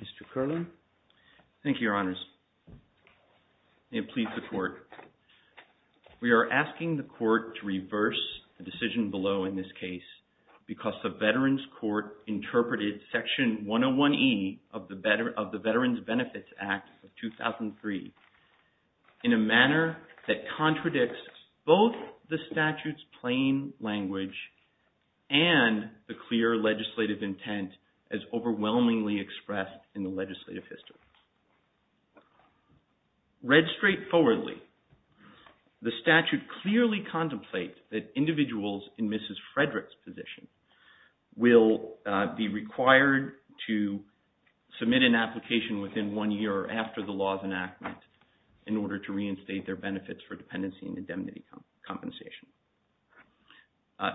Mr. Curlin. Thank you, Your Honors. May it please the Court. We are asking the Court to reverse the decision below in this case because the Veterans Court interpreted Section 101E of the Veterans Benefits Act of 2003 in a manner that contradicts both the statute's and overwhelmingly expressed in the legislative history. Read straightforwardly, the statute clearly contemplates that individuals in Mrs. Frederick's position will be required to submit an application within one year after the law's enactment in order to reinstate their benefits for dependency and indemnity compensation.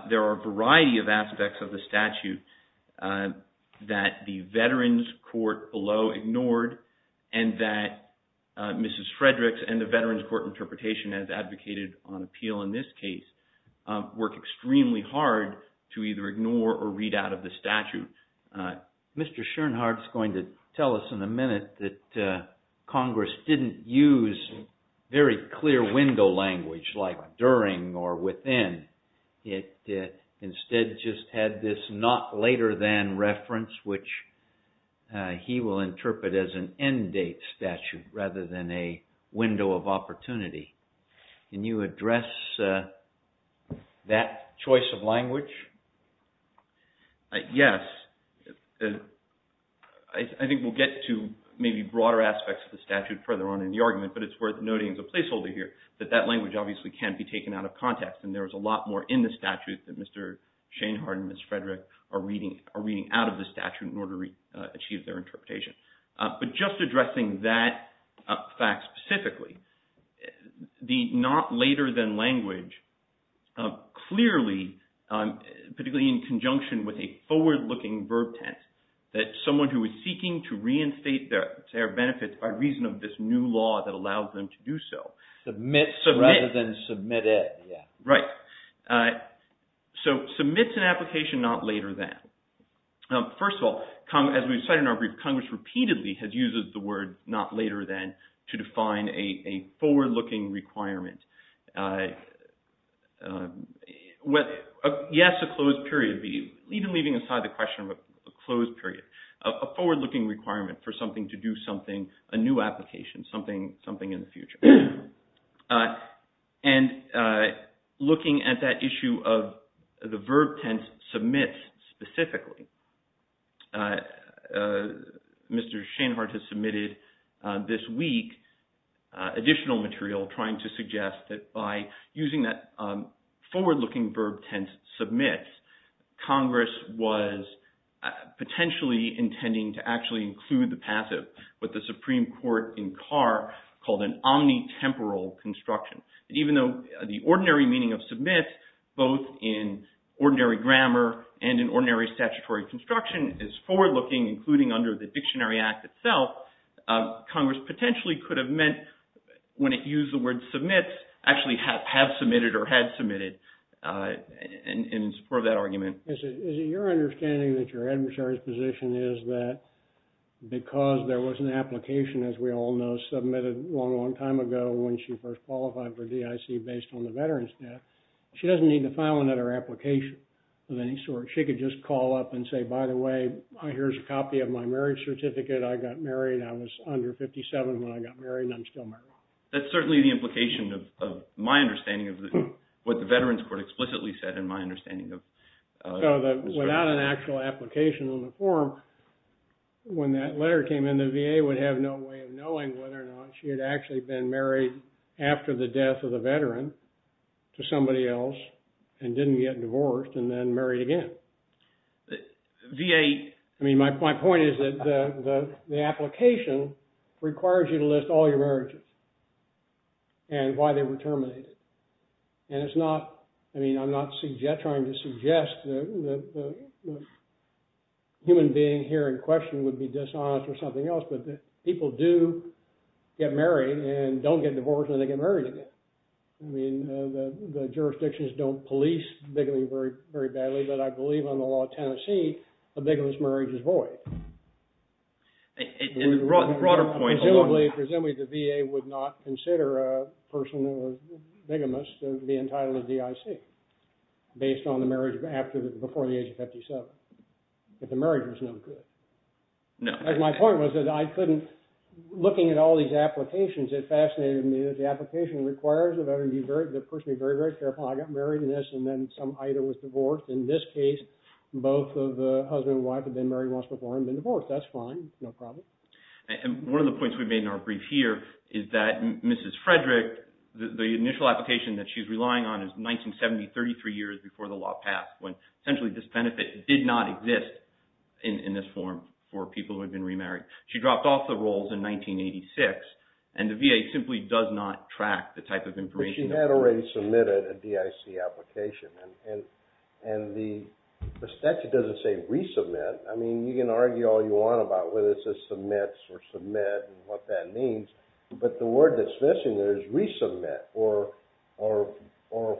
There are a variety of aspects of the statute that the Veterans Court below ignored and that Mrs. Frederick's and the Veterans Court interpretation has advocated on appeal in this case work extremely hard to either ignore or read out of the statute. Mr. Schoenhardt's going to tell us in a minute that Congress didn't use very clear window language like during or within. It instead just had this not later than reference which he will interpret as an end date statute rather than a window of opportunity. Can you address that choice of language? Yes. I think we'll get to maybe broader aspects of the statute further on in the argument, but it's worth noting as a placeholder here that that language obviously can be taken out of context and there is a lot more in the statute that Mr. Schoenhardt and Mrs. Frederick are reading out of the statute in order to achieve their interpretation. But just addressing that fact specifically, the not later than language clearly, particularly in conjunction with a forward-looking verb tense, that someone who is seeking to reinstate their benefits by reason of this new law that allows them to do so. Submits rather than submitted. Right. So, submits an application not later than. First of all, as we've said in our brief, Congress repeatedly has used the word not later than to define a forward-looking requirement. Yes, a closed period be, even leaving aside the question of a closed period, a forward-looking requirement for something to do something, a new application, something in the future. And looking at that issue of the verb tense, submits specifically, Mr. Schoenhardt has submitted this week additional material trying to suggest that by using that forward-looking verb tense, submits, Congress was potentially intending to actually include the passive with the Supreme Court in Carr called an omnitemporal construction. And even though the ordinary meaning of submits, both in ordinary grammar and in ordinary statutory construction is forward-looking, including under the Dictionary Act itself, Congress potentially could have meant when it used the word submits, actually have submitted or had submitted in support of that argument. Is it your understanding that your adversary's position is that because there was an application, as we all know, submitted a long, long time ago when she first qualified for DIC based on the veteran's death, she doesn't need to file another application of any sort. She could just call up and say, by the way, here's a copy of my marriage certificate. I got married. I was under 57 when I got married and I'm still married. That's certainly the implication of my understanding of what the Veterans' Court explicitly said in my understanding of... So without an actual application on the form, when that letter came in, the VA would have no way of knowing whether or not she had actually been married after the death of the veteran to somebody else and didn't get divorced and then married again. I mean, my point is that the application requires you to list all your marriages and why they were terminated. And it's not... I mean, I'm not trying to suggest that the human being here in question would be dishonest or something else, but people do get married and don't get divorced and they get married again. I mean, the jurisdictions don't police bigamy very badly, but I believe on the law of Tennessee, a bigamist marriage is void. And the broader point... Presumably, the VA would not consider a person who was bigamist to be entitled to DIC based on the marriage before the age of 57. If the marriage was no good. No. My point was that I couldn't... Looking at all these applications, it fascinated me that the application requires the person to be very, very careful. I got married in a bigamist and then some IDA was divorced. In this case, both of the husband and wife had been married once before and been divorced. That's fine. No problem. And one of the points we've made in our brief here is that Mrs. Frederick, the initial application that she's relying on is 1970, 33 years before the law passed when essentially this benefit did not exist in this form for people who had been remarried. She dropped off the rolls in 1986 and the VA simply does not track the type of information... And the statute doesn't say resubmit. I mean, you can argue all you want about whether it says submits or submit and what that means. But the word that's missing there is resubmit or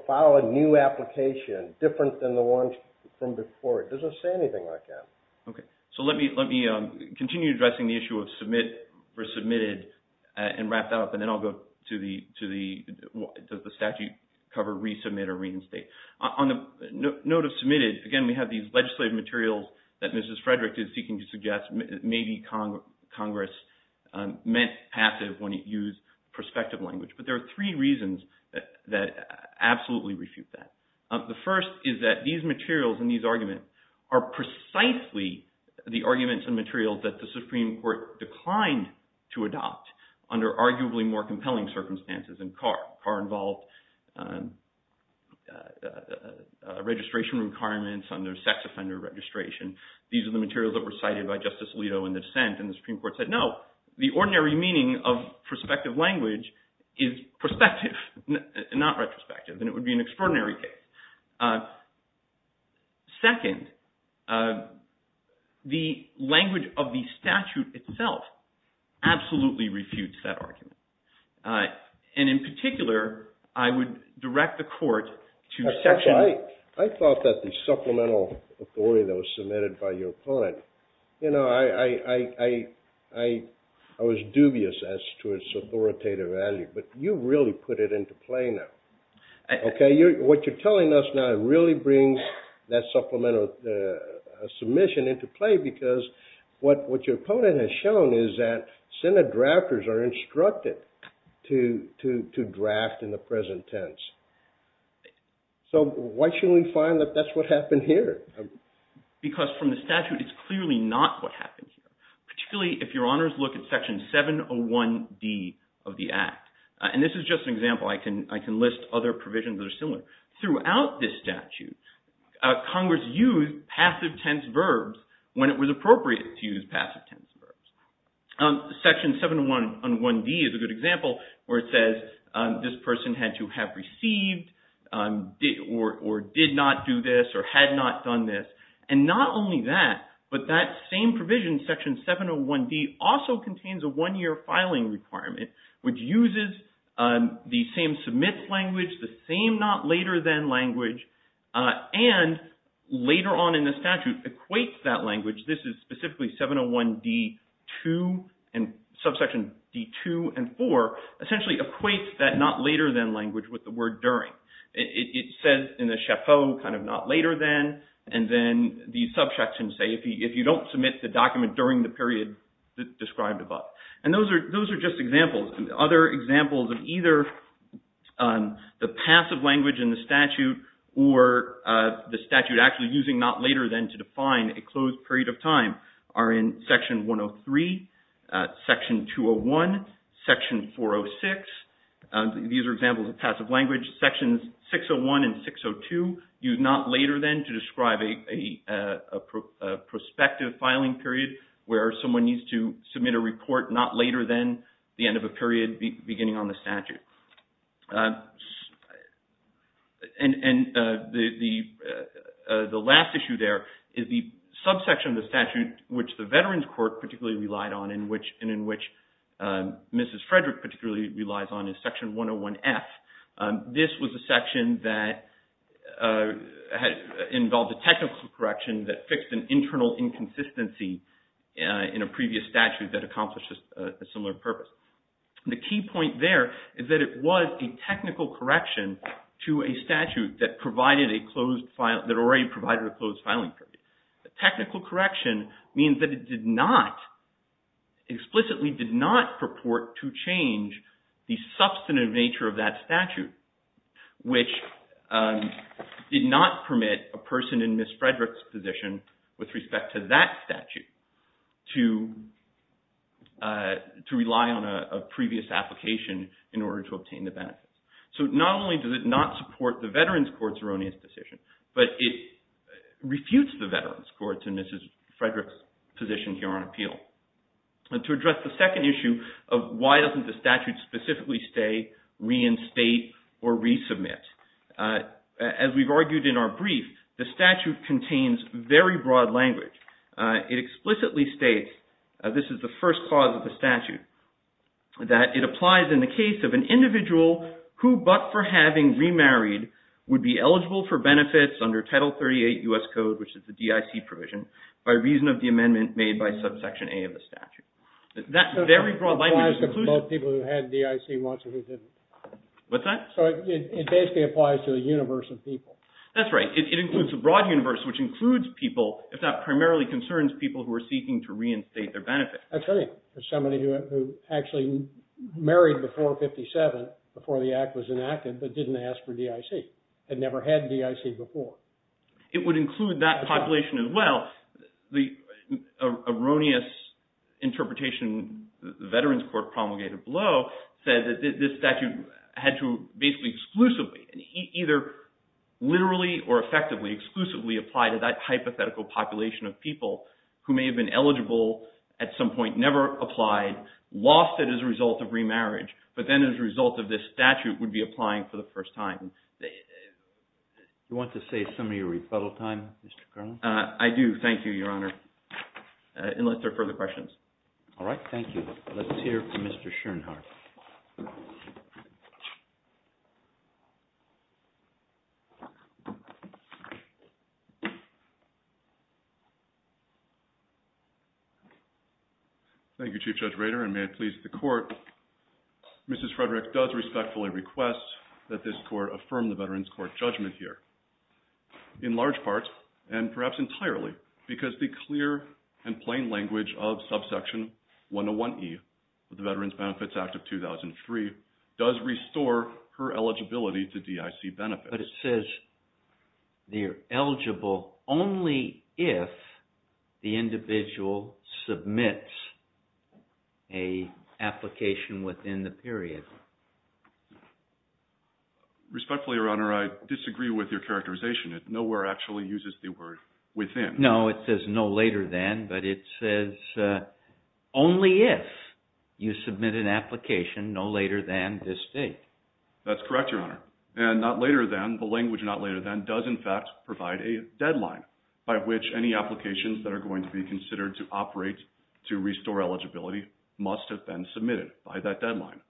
file a new application different than the ones from before. It doesn't say anything like that. Okay. So let me continue addressing the issue of submit or submitted and wrap that up and then I'll go to the does the statute cover resubmit or reinstate. On the note of submitted, again, we have these legislative materials that Mrs. Frederick is seeking to suggest maybe Congress meant passive when it used prospective language. But there are three reasons that absolutely refute that. The first is that these materials and these arguments are precisely the arguments and compelling circumstances in Carr. Carr involved registration requirements under sex offender registration. These are the materials that were cited by Justice Alito in the dissent and the Supreme Court said, no, the ordinary meaning of prospective language is prospective, not retrospective, and it would be an extraordinary case. Second, the language of the statute itself absolutely refutes that argument. And in particular, I would direct the court to section 8. I thought that the supplemental authority that was submitted by your opponent, you know, I was dubious as to its authoritative value, but you really put it into play now. Okay, what you're telling us now really brings that supplemental submission into play because what your opponent has shown is that Senate drafters are instructed to draft in the present tense. So why shouldn't we find that that's what happened here? Because from the statute, it's clearly not what happened here, particularly if your honors look at section 701D of the Act. And this is just an example, I can list other provisions that are similar. Throughout this statute, Congress used passive tense verbs. Section 701D is a good example where it says this person had to have received or did not do this or had not done this. And not only that, but that same provision, section 701D, also contains a one-year filing requirement which uses the same submits language, the same not later than language, and later on in the statute equates that language, this is specifically 701D2 and subsection D2 and 4, essentially equates that not later than language with the word during. It says in the SHAFO kind of not later than, and then the subsection say if you don't submit the document during the period described above. And those are just examples. Other examples of either the passive language in the statute or the statute actually using not later than to define a closed period of time are in section 103, section 201, section 406. These are examples of passive language. Sections 601 and 602 use not later than to describe a prospective filing period where someone needs to And the last issue there is the subsection of the statute which the Veterans Court particularly relied on and in which Mrs. Frederick particularly relies on is section 101F. This was a section that involved a technical correction that fixed an internal inconsistency in a previous statute that accomplished a similar purpose. The key point there is that it was a technical correction to a statute that provided a closed filing, that already provided a closed filing period. Technical correction means that it did not, explicitly did not purport to change the substantive nature of that statute which did not permit a person in Mrs. to rely on a previous application in order to obtain the benefits. So not only does it not support the Veterans Court's erroneous decision, but it refutes the Veterans Court's and Mrs. Frederick's position here on appeal. To address the second issue of why doesn't the statute specifically stay, reinstate, or resubmit, as we've argued in our brief, the statute contains very broad language. It explicitly states, this is the first clause of the statute, that it applies in the case of an individual who, but for having remarried, would be eligible for benefits under Title 38 U.S. Code, which is the DIC provision, by reason of the amendment made by subsection A of the statute. That very broad language includes... It applies to both people who had DIC and who didn't. What's that? It basically applies to the universe of people. That's right. It includes a broad universe which includes people, if that primarily concerns people who are seeking to reinstate their benefits. That's right. There's somebody who actually married before 57, before the Act was enacted, but didn't ask for DIC, had never had DIC before. It would include that population as well. The erroneous interpretation the Veterans Court promulgated below said that this statute had to basically exclusively, either literally or effectively exclusively, apply to that hypothetical population of people who may have been eligible at some point, never applied, lost it as a result of remarriage, but then as a result of this statute would be applying for the first time. Do you want to save some of your rebuttal time, Mr. Carlin? I do, thank you, Your Honor, unless there are further questions. All right, thank you. Let's hear from Mr. Schoenhardt. Thank you, Chief Judge Rader, and may it please the Court, Mrs. Frederick does respectfully request that this Court affirm the Veterans Court judgment here, in large part, and perhaps entirely, because the clear and plain language of subsection 101E of the Veterans Benefits Act of 2003 does restore her eligibility to DIC benefits. But it says you're eligible only if the individual submits an application within the period. Respectfully, Your Honor, I disagree with your characterization. Nowhere actually uses the word within. No, it says no later than, but it says only if you submit an application no later than this date. That's correct, Your Honor, and not later than, the language not later than does, in fact, provide a deadline by which any applications that are going to be considered to operate to restore eligibility must have been submitted by that deadline.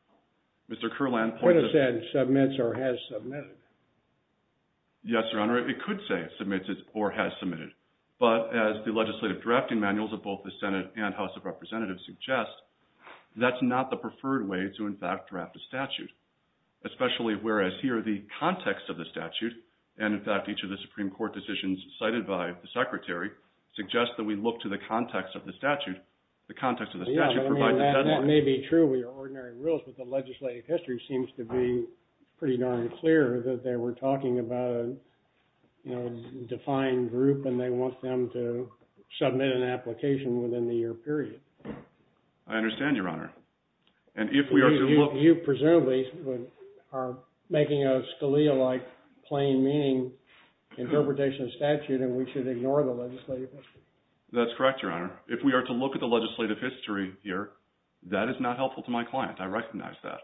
Mr. Carlin, the Court has said submits or has submitted. Yes, Your Honor, it could say submits or has submitted. But as the legislative drafting manuals of both the Senate and House of Representatives suggest, that's not the preferred way to, in fact, draft a statute. Especially whereas here, the context of the statute, and, in fact, each of the Supreme Court decisions cited by the Secretary, suggest that we look to the context of the statute. The context of the statute provides a deadline. Yes, that may be true with your ordinary rules, but the legislative history seems to be pretty darn clear that they were talking about a defined group, and they want them to submit an application within the year period. I understand, Your Honor. And if we are to look... You presumably are making a Scalia-like plain meaning interpretation of the statute, and we should ignore the legislative history. That's correct, Your Honor. If we are to look at the legislative history here, that is not helpful to my client. I recognize that.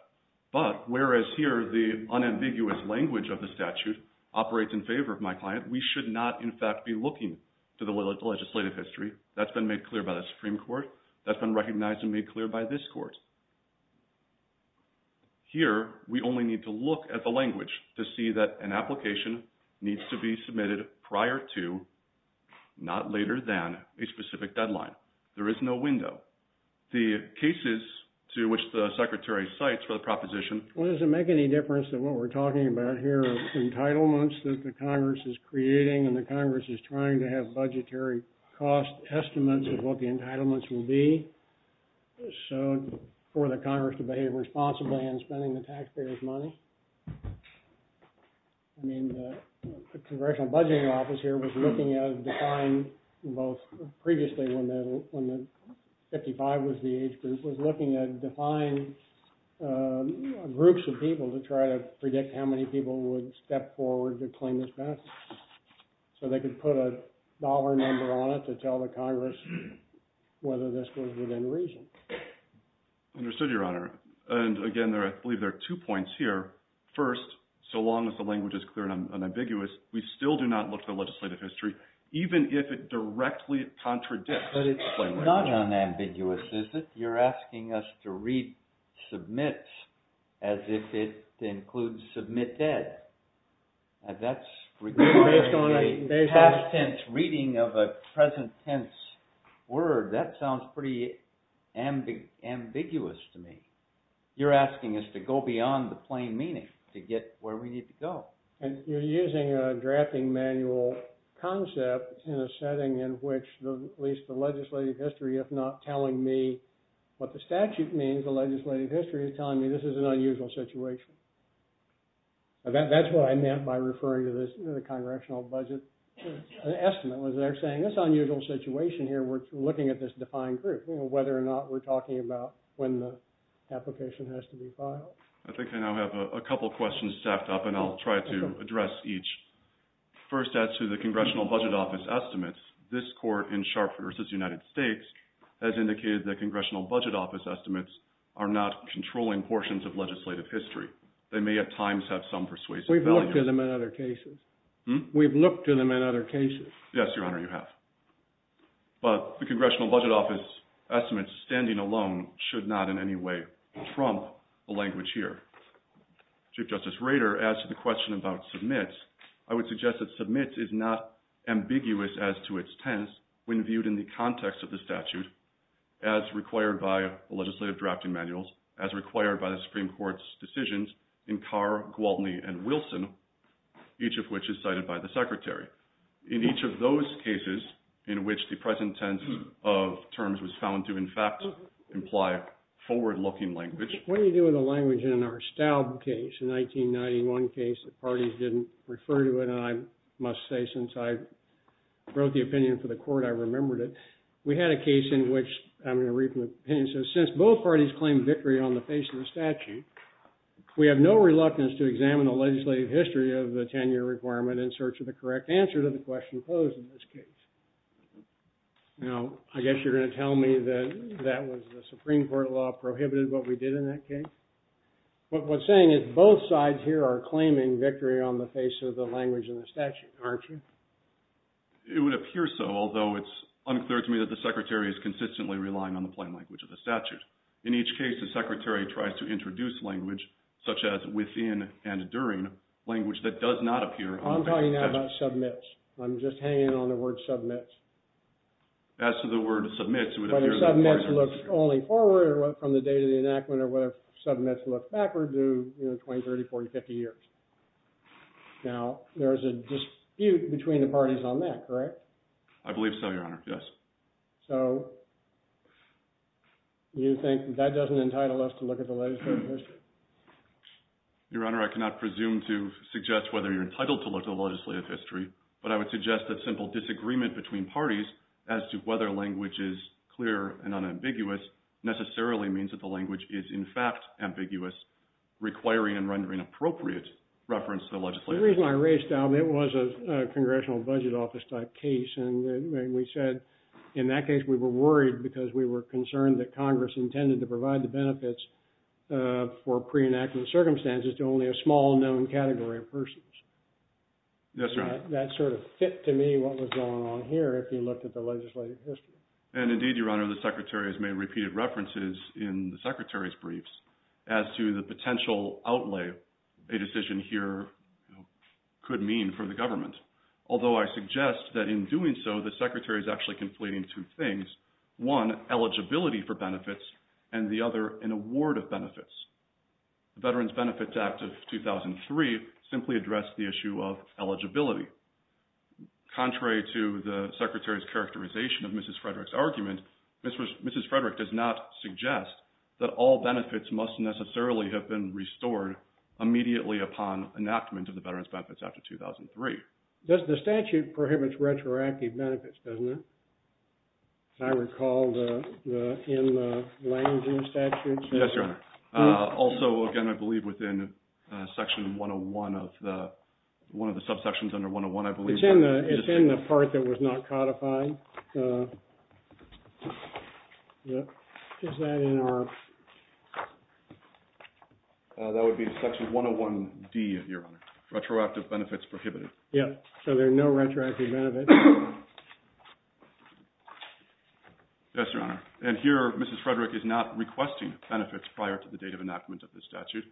But whereas here, the unambiguous language of the statute operates in favor of my client, we should not, in fact, be looking to the legislative history. That's been made clear by the Supreme Court. That's been recognized and made clear by this Court. Here, we only need to look at the language to see that an application needs to be submitted prior to, not later than, a specific deadline. There is no window. The cases to which the Secretary cites for the proposition... Well, does it make any difference that what we're talking about here are entitlements that the Congress is creating, and the Congress is trying to have budgetary cost estimates of what the entitlements will be? So, for the Congress to behave responsibly in spending the taxpayers' money? I mean, the Congressional Budgeting Office here was looking at, defined both previously when the 55 was the age group, was looking at defined groups of people to try to predict how many people would step forward to claim this benefit. So they could put a dollar number on it to tell the Congress whether this was within reason. Understood, Your Honor. And, again, I believe there are two points here. First, so long as the language is clear and unambiguous, we still do not look to the legislative history, even if it directly contradicts... But it's not unambiguous, is it? You're asking us to read submits as if it includes submitted. And that's regarding a past tense reading of a present tense word. That sounds pretty ambiguous to me. You're asking us to go beyond the plain meaning to get where we need to go. And you're using a drafting manual concept in a setting in which, at least the legislative history, if not telling me what the statute means, the legislative history is telling me this is an unusual situation. That's what I meant by referring to the Congressional Budget Estimate, was they're saying this unusual situation here, we're looking at this defined group, whether or not we're talking about when the application has to be filed. I think I now have a couple questions stacked up, and I'll try to address each. First, as to the Congressional Budget Office Estimates, this court in Sharp v. United States has indicated that Congressional Budget Office Estimates are not controlling portions of legislative history. They may at times have some persuasive value. We've looked at them in other cases. We've looked at them in other cases. Yes, Your Honor, you have. But the Congressional Budget Office Estimates, standing alone, should not in any way trump the language here. Chief Justice Rader asked the question about submits. I would suggest that submits is not ambiguous as to its tense when viewed in the context of the statute, as required by the legislative drafting manuals, as required by the Supreme Court's decisions in Carr, Gwaltney, and Wilson, each of which is cited by the Secretary. In each of those cases, in which the present tense of terms was found to, in fact, imply forward-looking language. What do you do with the language in our Staub case, the 1991 case? The parties didn't refer to it, and I must say, since I wrote the opinion for the court, I remembered it. We had a case in which, I'm going to read from the opinion, since both parties claim victory on the face of the statute, we have no reluctance to examine the legislative history of the 10-year requirement in search of the correct answer to the question posed in this case. Now, I guess you're going to tell me that that was the Supreme Court law prohibited what we did in that case. But what I'm saying is, both sides here are claiming victory on the face of the language in the statute, aren't you? It would appear so, although it's unclear to me that the Secretary is consistently relying on the plain language of the statute. In each case, the Secretary tries to introduce language such as within and during, language that does not appear on the statute. I'm talking now about submits. I'm just hanging on the word submits. As to the word submits, it would appear... Submits look only forward from the date of the enactment or whether submits look backwards to 20, 30, 40, 50 years. Now, there's a dispute between the parties on that, correct? I believe so, Your Honor, yes. So, you think that doesn't entitle us to look at the legislative history? Your Honor, I cannot presume to suggest whether you're entitled to look at the legislative history, but I would suggest that simple disagreement between parties as to whether language is clear and unambiguous necessarily means that the language is in fact ambiguous, requiring and rendering appropriate reference to the legislative history. The reason I raised that, it was a Congressional Budget Office type case, and we said in that case we were worried because we were concerned that Congress intended to provide the benefits for pre-enactment circumstances to only a small known category of persons. Yes, Your Honor. That sort of fit to me what was going on here if you looked at the legislative history. And indeed, Your Honor, the Secretary has made repeated references in the Secretary's briefs as to the potential outlay a decision here could mean for the government. Although I suggest that in doing so, the Secretary is actually conflating two things. One, eligibility for benefits, and the other, an award of benefits. The Veterans Benefits Act of 2003 simply addressed the issue of eligibility. Contrary to the Secretary's characterization of Mrs. Frederick's argument, Mrs. Frederick does not suggest that all benefits must necessarily have been restored immediately upon enactment of the Veterans Benefits Act of 2003. The statute prohibits retroactive benefits, doesn't it? I recall in the Langdon statute. Yes, Your Honor. Also, again, I believe within Section 101 of the one of the subsections under 101 I believe. It's in the part that was not codified. Is that in our That would be in Section 101 D, Your Honor. Retroactive benefits prohibited. Yes. So there are no retroactive benefits. Yes, Your Honor. And here, Mrs. Frederick is not requesting benefits prior to the date of enactment of the statute.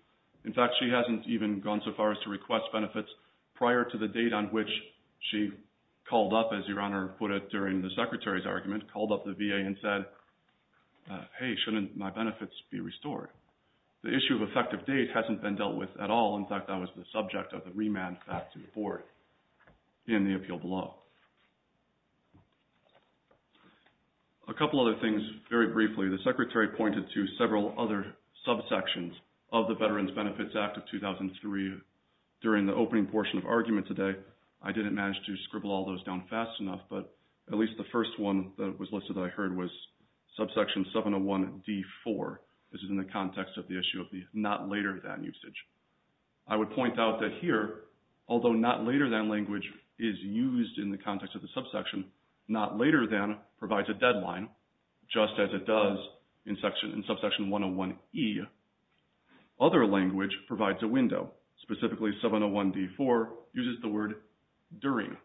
In fact, she hasn't even gone so far as to request benefits prior to the date on which she called up, as Your Honor put it, during the Secretary's argument, called up the VA and said, Hey, shouldn't my benefits be restored? The issue of effective date hasn't been dealt with at all. In fact, that was the subject of the remand back to the Board in the appeal below. A couple other things very briefly. The Secretary pointed to several other subsections of the Veterans Benefits Act of 2003 during the opening portion of argument today. I didn't manage to scribble all those down fast enough, but at least the first one that was listed that I heard was Subsection 701 D4. This is in the context of the issue of the not later than usage. I would point out that here, although not later than language is used in the context of the subsection, not later than provides a deadline just as it does Other language provides a window. Specifically, 701 D4 uses the word during,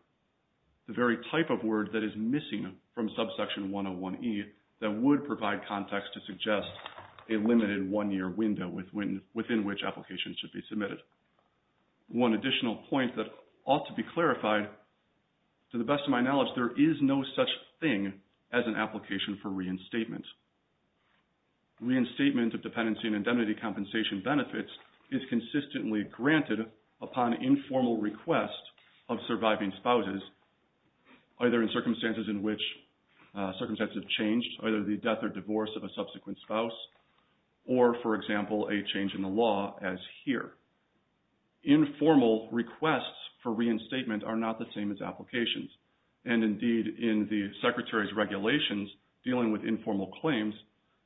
the very type of word that is missing from Subsection 101 E that would provide context to suggest a limited one-year window within which applications should be submitted. One additional point that ought to be clarified, to the best of my knowledge, there is no such thing as an application for reinstatement. Reinstatement of dependency and indemnity compensation benefits is consistently granted upon informal request of surviving spouses either in circumstances in which circumstances have changed either the death or divorce of a subsequent spouse or, for example, a change in the law as here. Informal requests for reinstatement are not the same as applications. Indeed, in the Secretary's regulations dealing with informal claims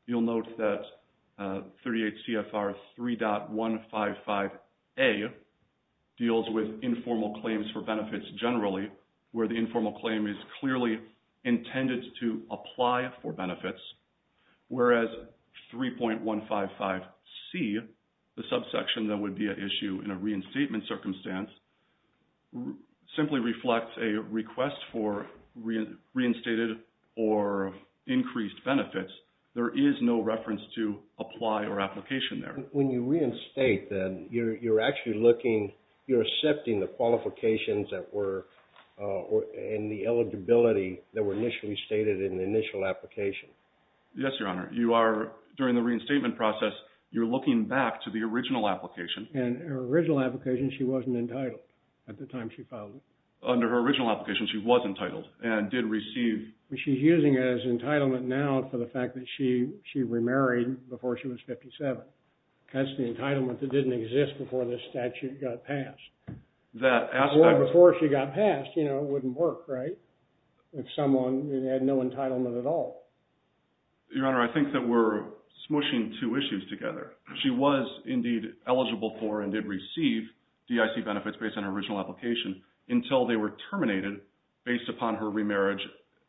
you'll note that 38 CFR 3.155A deals with informal claims for benefits generally where the informal claim is clearly intended to apply for benefits whereas 3.155C the subsection that would be an issue in a reinstatement circumstance simply reflects a request for reinstated or increased benefits. There is no reference to apply or application there. When you reinstate then, you're actually looking you're accepting the qualifications that were in the eligibility that were initially stated in the initial application. Yes, Your Honor. You are, during the reinstatement process, you're looking back to the original application. In her original application, she wasn't entitled at the time she filed it. Under her original application, she was entitled and did receive... She's using it as entitlement now for the fact that she remarried before she was 57. That's the entitlement that didn't exist before this statute got passed. Before she got passed, you know, it wouldn't work, right? If someone had no entitlement at all. Your Honor, I think that we're smushing two issues together. She was indeed eligible for and did receive DIC benefits based on her original application until they were terminated based upon her remarriage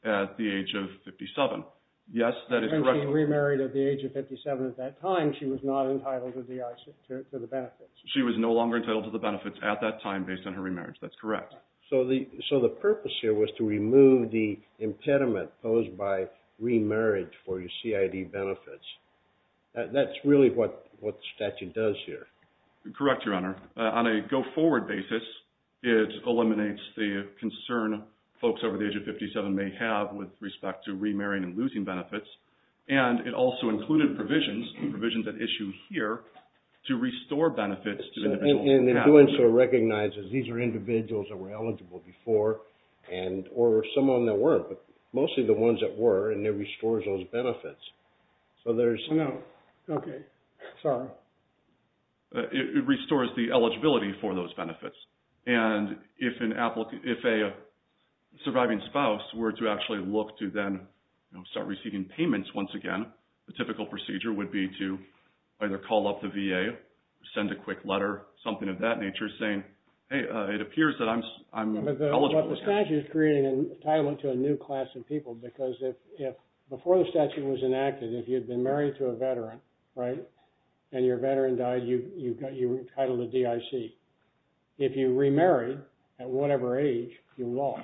at the age of 57. Yes, that is correct. Since she remarried at the age of 57 at that time, she was not entitled to the benefits. She was no longer entitled to the benefits at that time based on her remarriage. That's correct. So the purpose here was to remove the impediment posed by remarriage for CID benefits. That's really what the statute does here. Correct, Your Honor. On a go-forward basis, it eliminates the concern folks over the age of 57 may have with respect to remarrying and it also included provisions that issue here to restore benefits to individuals. And doing so recognizes these are individuals that were eligible before or were someone that weren't, but mostly the ones that were, and it restores those benefits. Okay. Sorry. It restores the eligibility for those benefits. And if a surviving spouse were to actually look to then start receiving payments once again, the typical procedure would be to either call up the VA, send a quick letter, something of that nature saying, hey, it appears that I'm eligible. But the statute is creating an entitlement to a new class of people because before the statute was enacted, if you'd been married to a veteran and your veteran died, you were entitled to DIC. If you remarried at whatever age, you lost.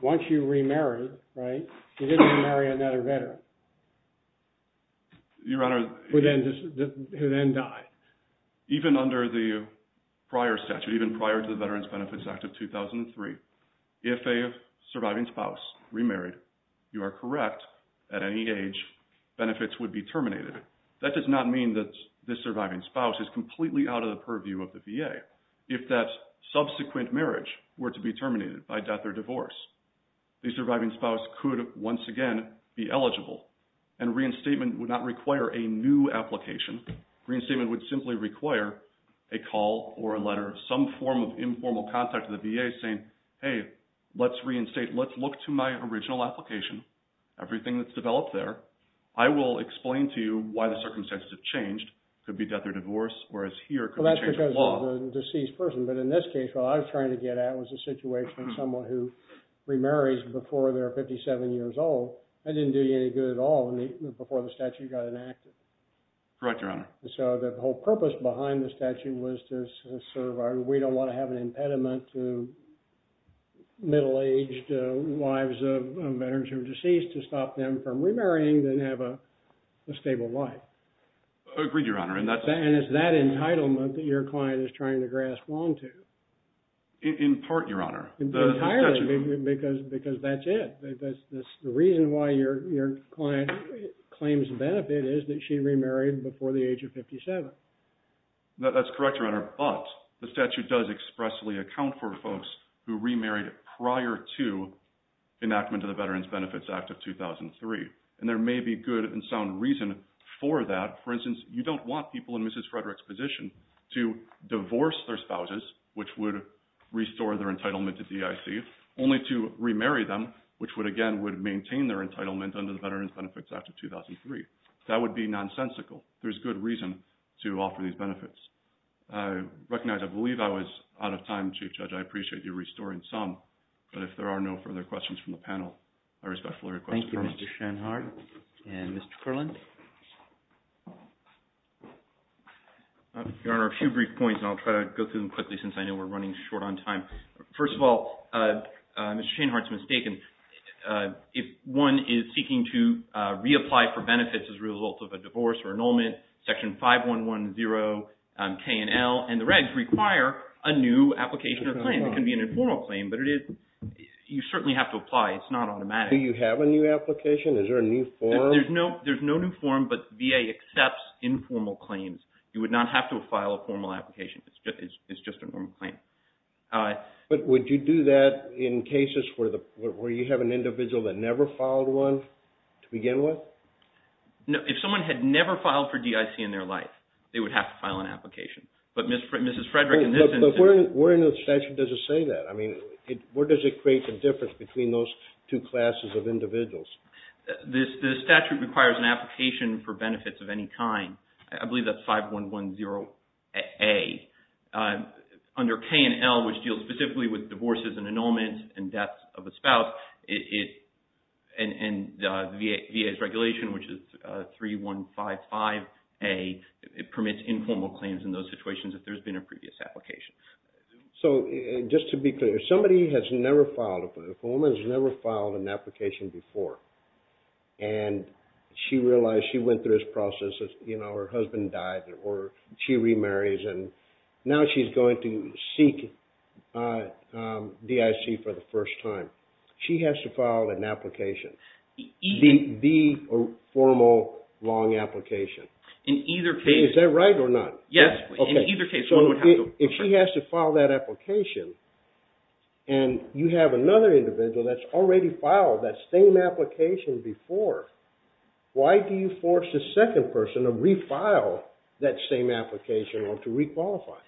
Once you remarried, you didn't remarry another veteran who then died. Even under the prior statute, even prior to the Veterans Benefits Act of 2003, if a surviving spouse remarried, you are correct at any age, benefits would be terminated. That does not mean that the surviving spouse is completely out of the purview of the VA. If that subsequent marriage were to be terminated by death or divorce, the surviving spouse could once again be eligible and reinstatement would not require a new application. Reinstatement would simply require a call or a letter, some form of informal contact to the VA saying, hey, let's reinstate. Let's look to my original application, everything that's developed there. I will explain to you why the circumstances have changed. It could be death or divorce, whereas here it could be change of law. In this case, what I was trying to get at was a situation of someone who remarries before they're 57 years old. That didn't do you any good at all before the statute got enacted. Correct, Your Honor. The whole purpose behind the statute was to say we don't want to have an impediment to middle-aged wives of veterans who are deceased to stop them from remarrying and have a stable life. Agreed, Your Honor. It's that entitlement that your client is trying to grasp onto. In part, Your Honor. Entirely, because that's it. The reason why your client claims benefit is that she remarried before the age of 57. That's correct, Your Honor, but the statute does expressly account for folks who remarried prior to enactment of the Veterans Benefits Act of 2003. There may be good and sound reason for that. For instance, you don't want people in Mrs. Frederick's position to divorce their spouses, which would restore their entitlement to DIC, only to remarry them, which again would maintain their entitlement under the Veterans Benefits Act of 2003. That would be nonsensical. There's good reason to offer these benefits. I recognize I believe I was out of time, Chief Judge. I appreciate you restoring some, but if there are no further questions from the panel, I respectfully request adjournment. Thank you, Mr. Sheinhardt and Mr. Kerland. Your Honor, a few brief points, and I'll try to go through them quickly since I know we're running short on time. First of all, Mr. Sheinhardt's mistaken. If one is seeking to reapply for benefits as a result of a divorce or annulment, Section 5110 K and L and the regs require a new application or claim. It can be an informal claim, but you certainly have to file an application. Is there a new form? There's no new form, but VA accepts informal claims. You would not have to file a formal application. It's just a normal claim. But would you do that in cases where you have an individual that never filed one to begin with? If someone had never filed for DIC in their life, they would have to file an application. But Mrs. Frederick in this instance... Where in the statute does it say that? Where does it create the difference between those two classes of individuals? The statute requires an application for benefits of any kind. I believe that's 5110 A. Under K and L, which deals specifically with divorces and annulments and deaths of a spouse, and the VA's regulation, which is 3155 A, it permits informal claims in those situations if there's been a previous application. So, just to be clear, if a woman has never filed an application before and she realized she went through this process and her husband died or she remarries and now she's going to seek DIC for the first time, she has to file an application. The formal, long application. Is that right or not? If she has to file that application and you have another individual that's already filed that same application before, why do you force the second person to re-file that same application or to re-qualify?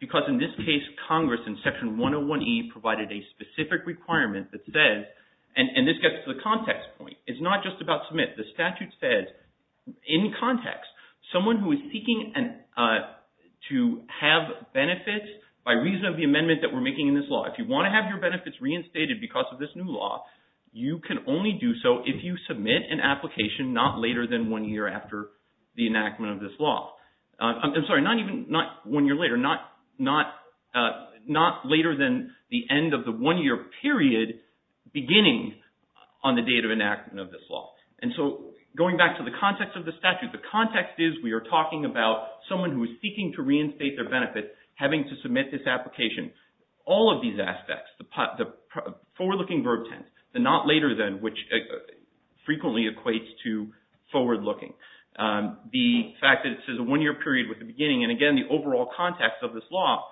Because in this case, Congress in Section 101E provided a specific requirement that says, and this gets to the context point, it's not just about Smith. The statute says in context, someone who is seeking to have benefits by reason of the amendment that we're making in this law. If you want to have your benefits reinstated because of this new law, you can only do so if you submit an application not later than one year after the enactment of this law. I'm sorry, not even one year later. Not later than the end of the one year period beginning on the date of enactment of this law. And so, going back to the context of the statute, the context is we are talking about someone who is seeking to reinstate their benefits having to submit this application. All of these aspects, the forward-looking verb tense, the not later than, which frequently equates to forward-looking. The fact that it says a one year period with the beginning and again the overall context of this law,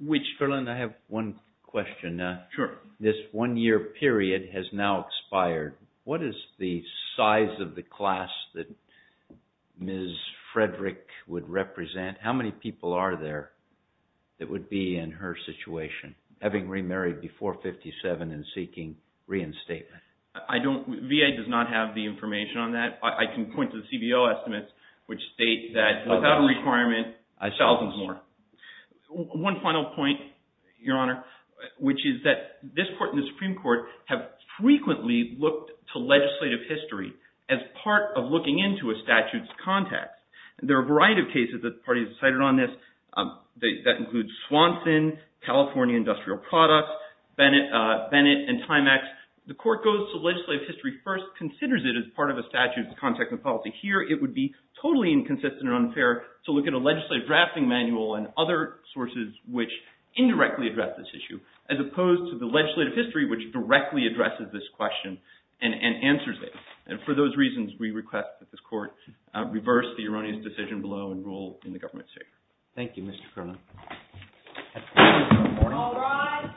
which... I have one question. This one year period has now expired. What is the size of the class that Ms. Frederick would represent? How many people are there that would be in her situation having remarried before 57 and seeking reinstatement? I don't... VA does not have the information on that. I can point to the CBO estimates which state that without a requirement, thousands more. One final point, Your Honor, which is that this Court and the Supreme Court have frequently looked to legislative history as part of looking into a statute's context. There are a variety of cases that the party has decided on this. That includes Swanson, California Industrial Products, Bennett and Timex. The Court goes to legislative history first, considers it as part of a statute's context and policy. Here it would be totally inconsistent and unfair to look at a legislative drafting manual and other sources which indirectly address this issue as opposed to the legislative history which directly addresses this question and answers it. For those reasons, we request that this Court reverse the erroneous decision below and rule in the government's favor. Thank you, Mr. Colonel. All rise.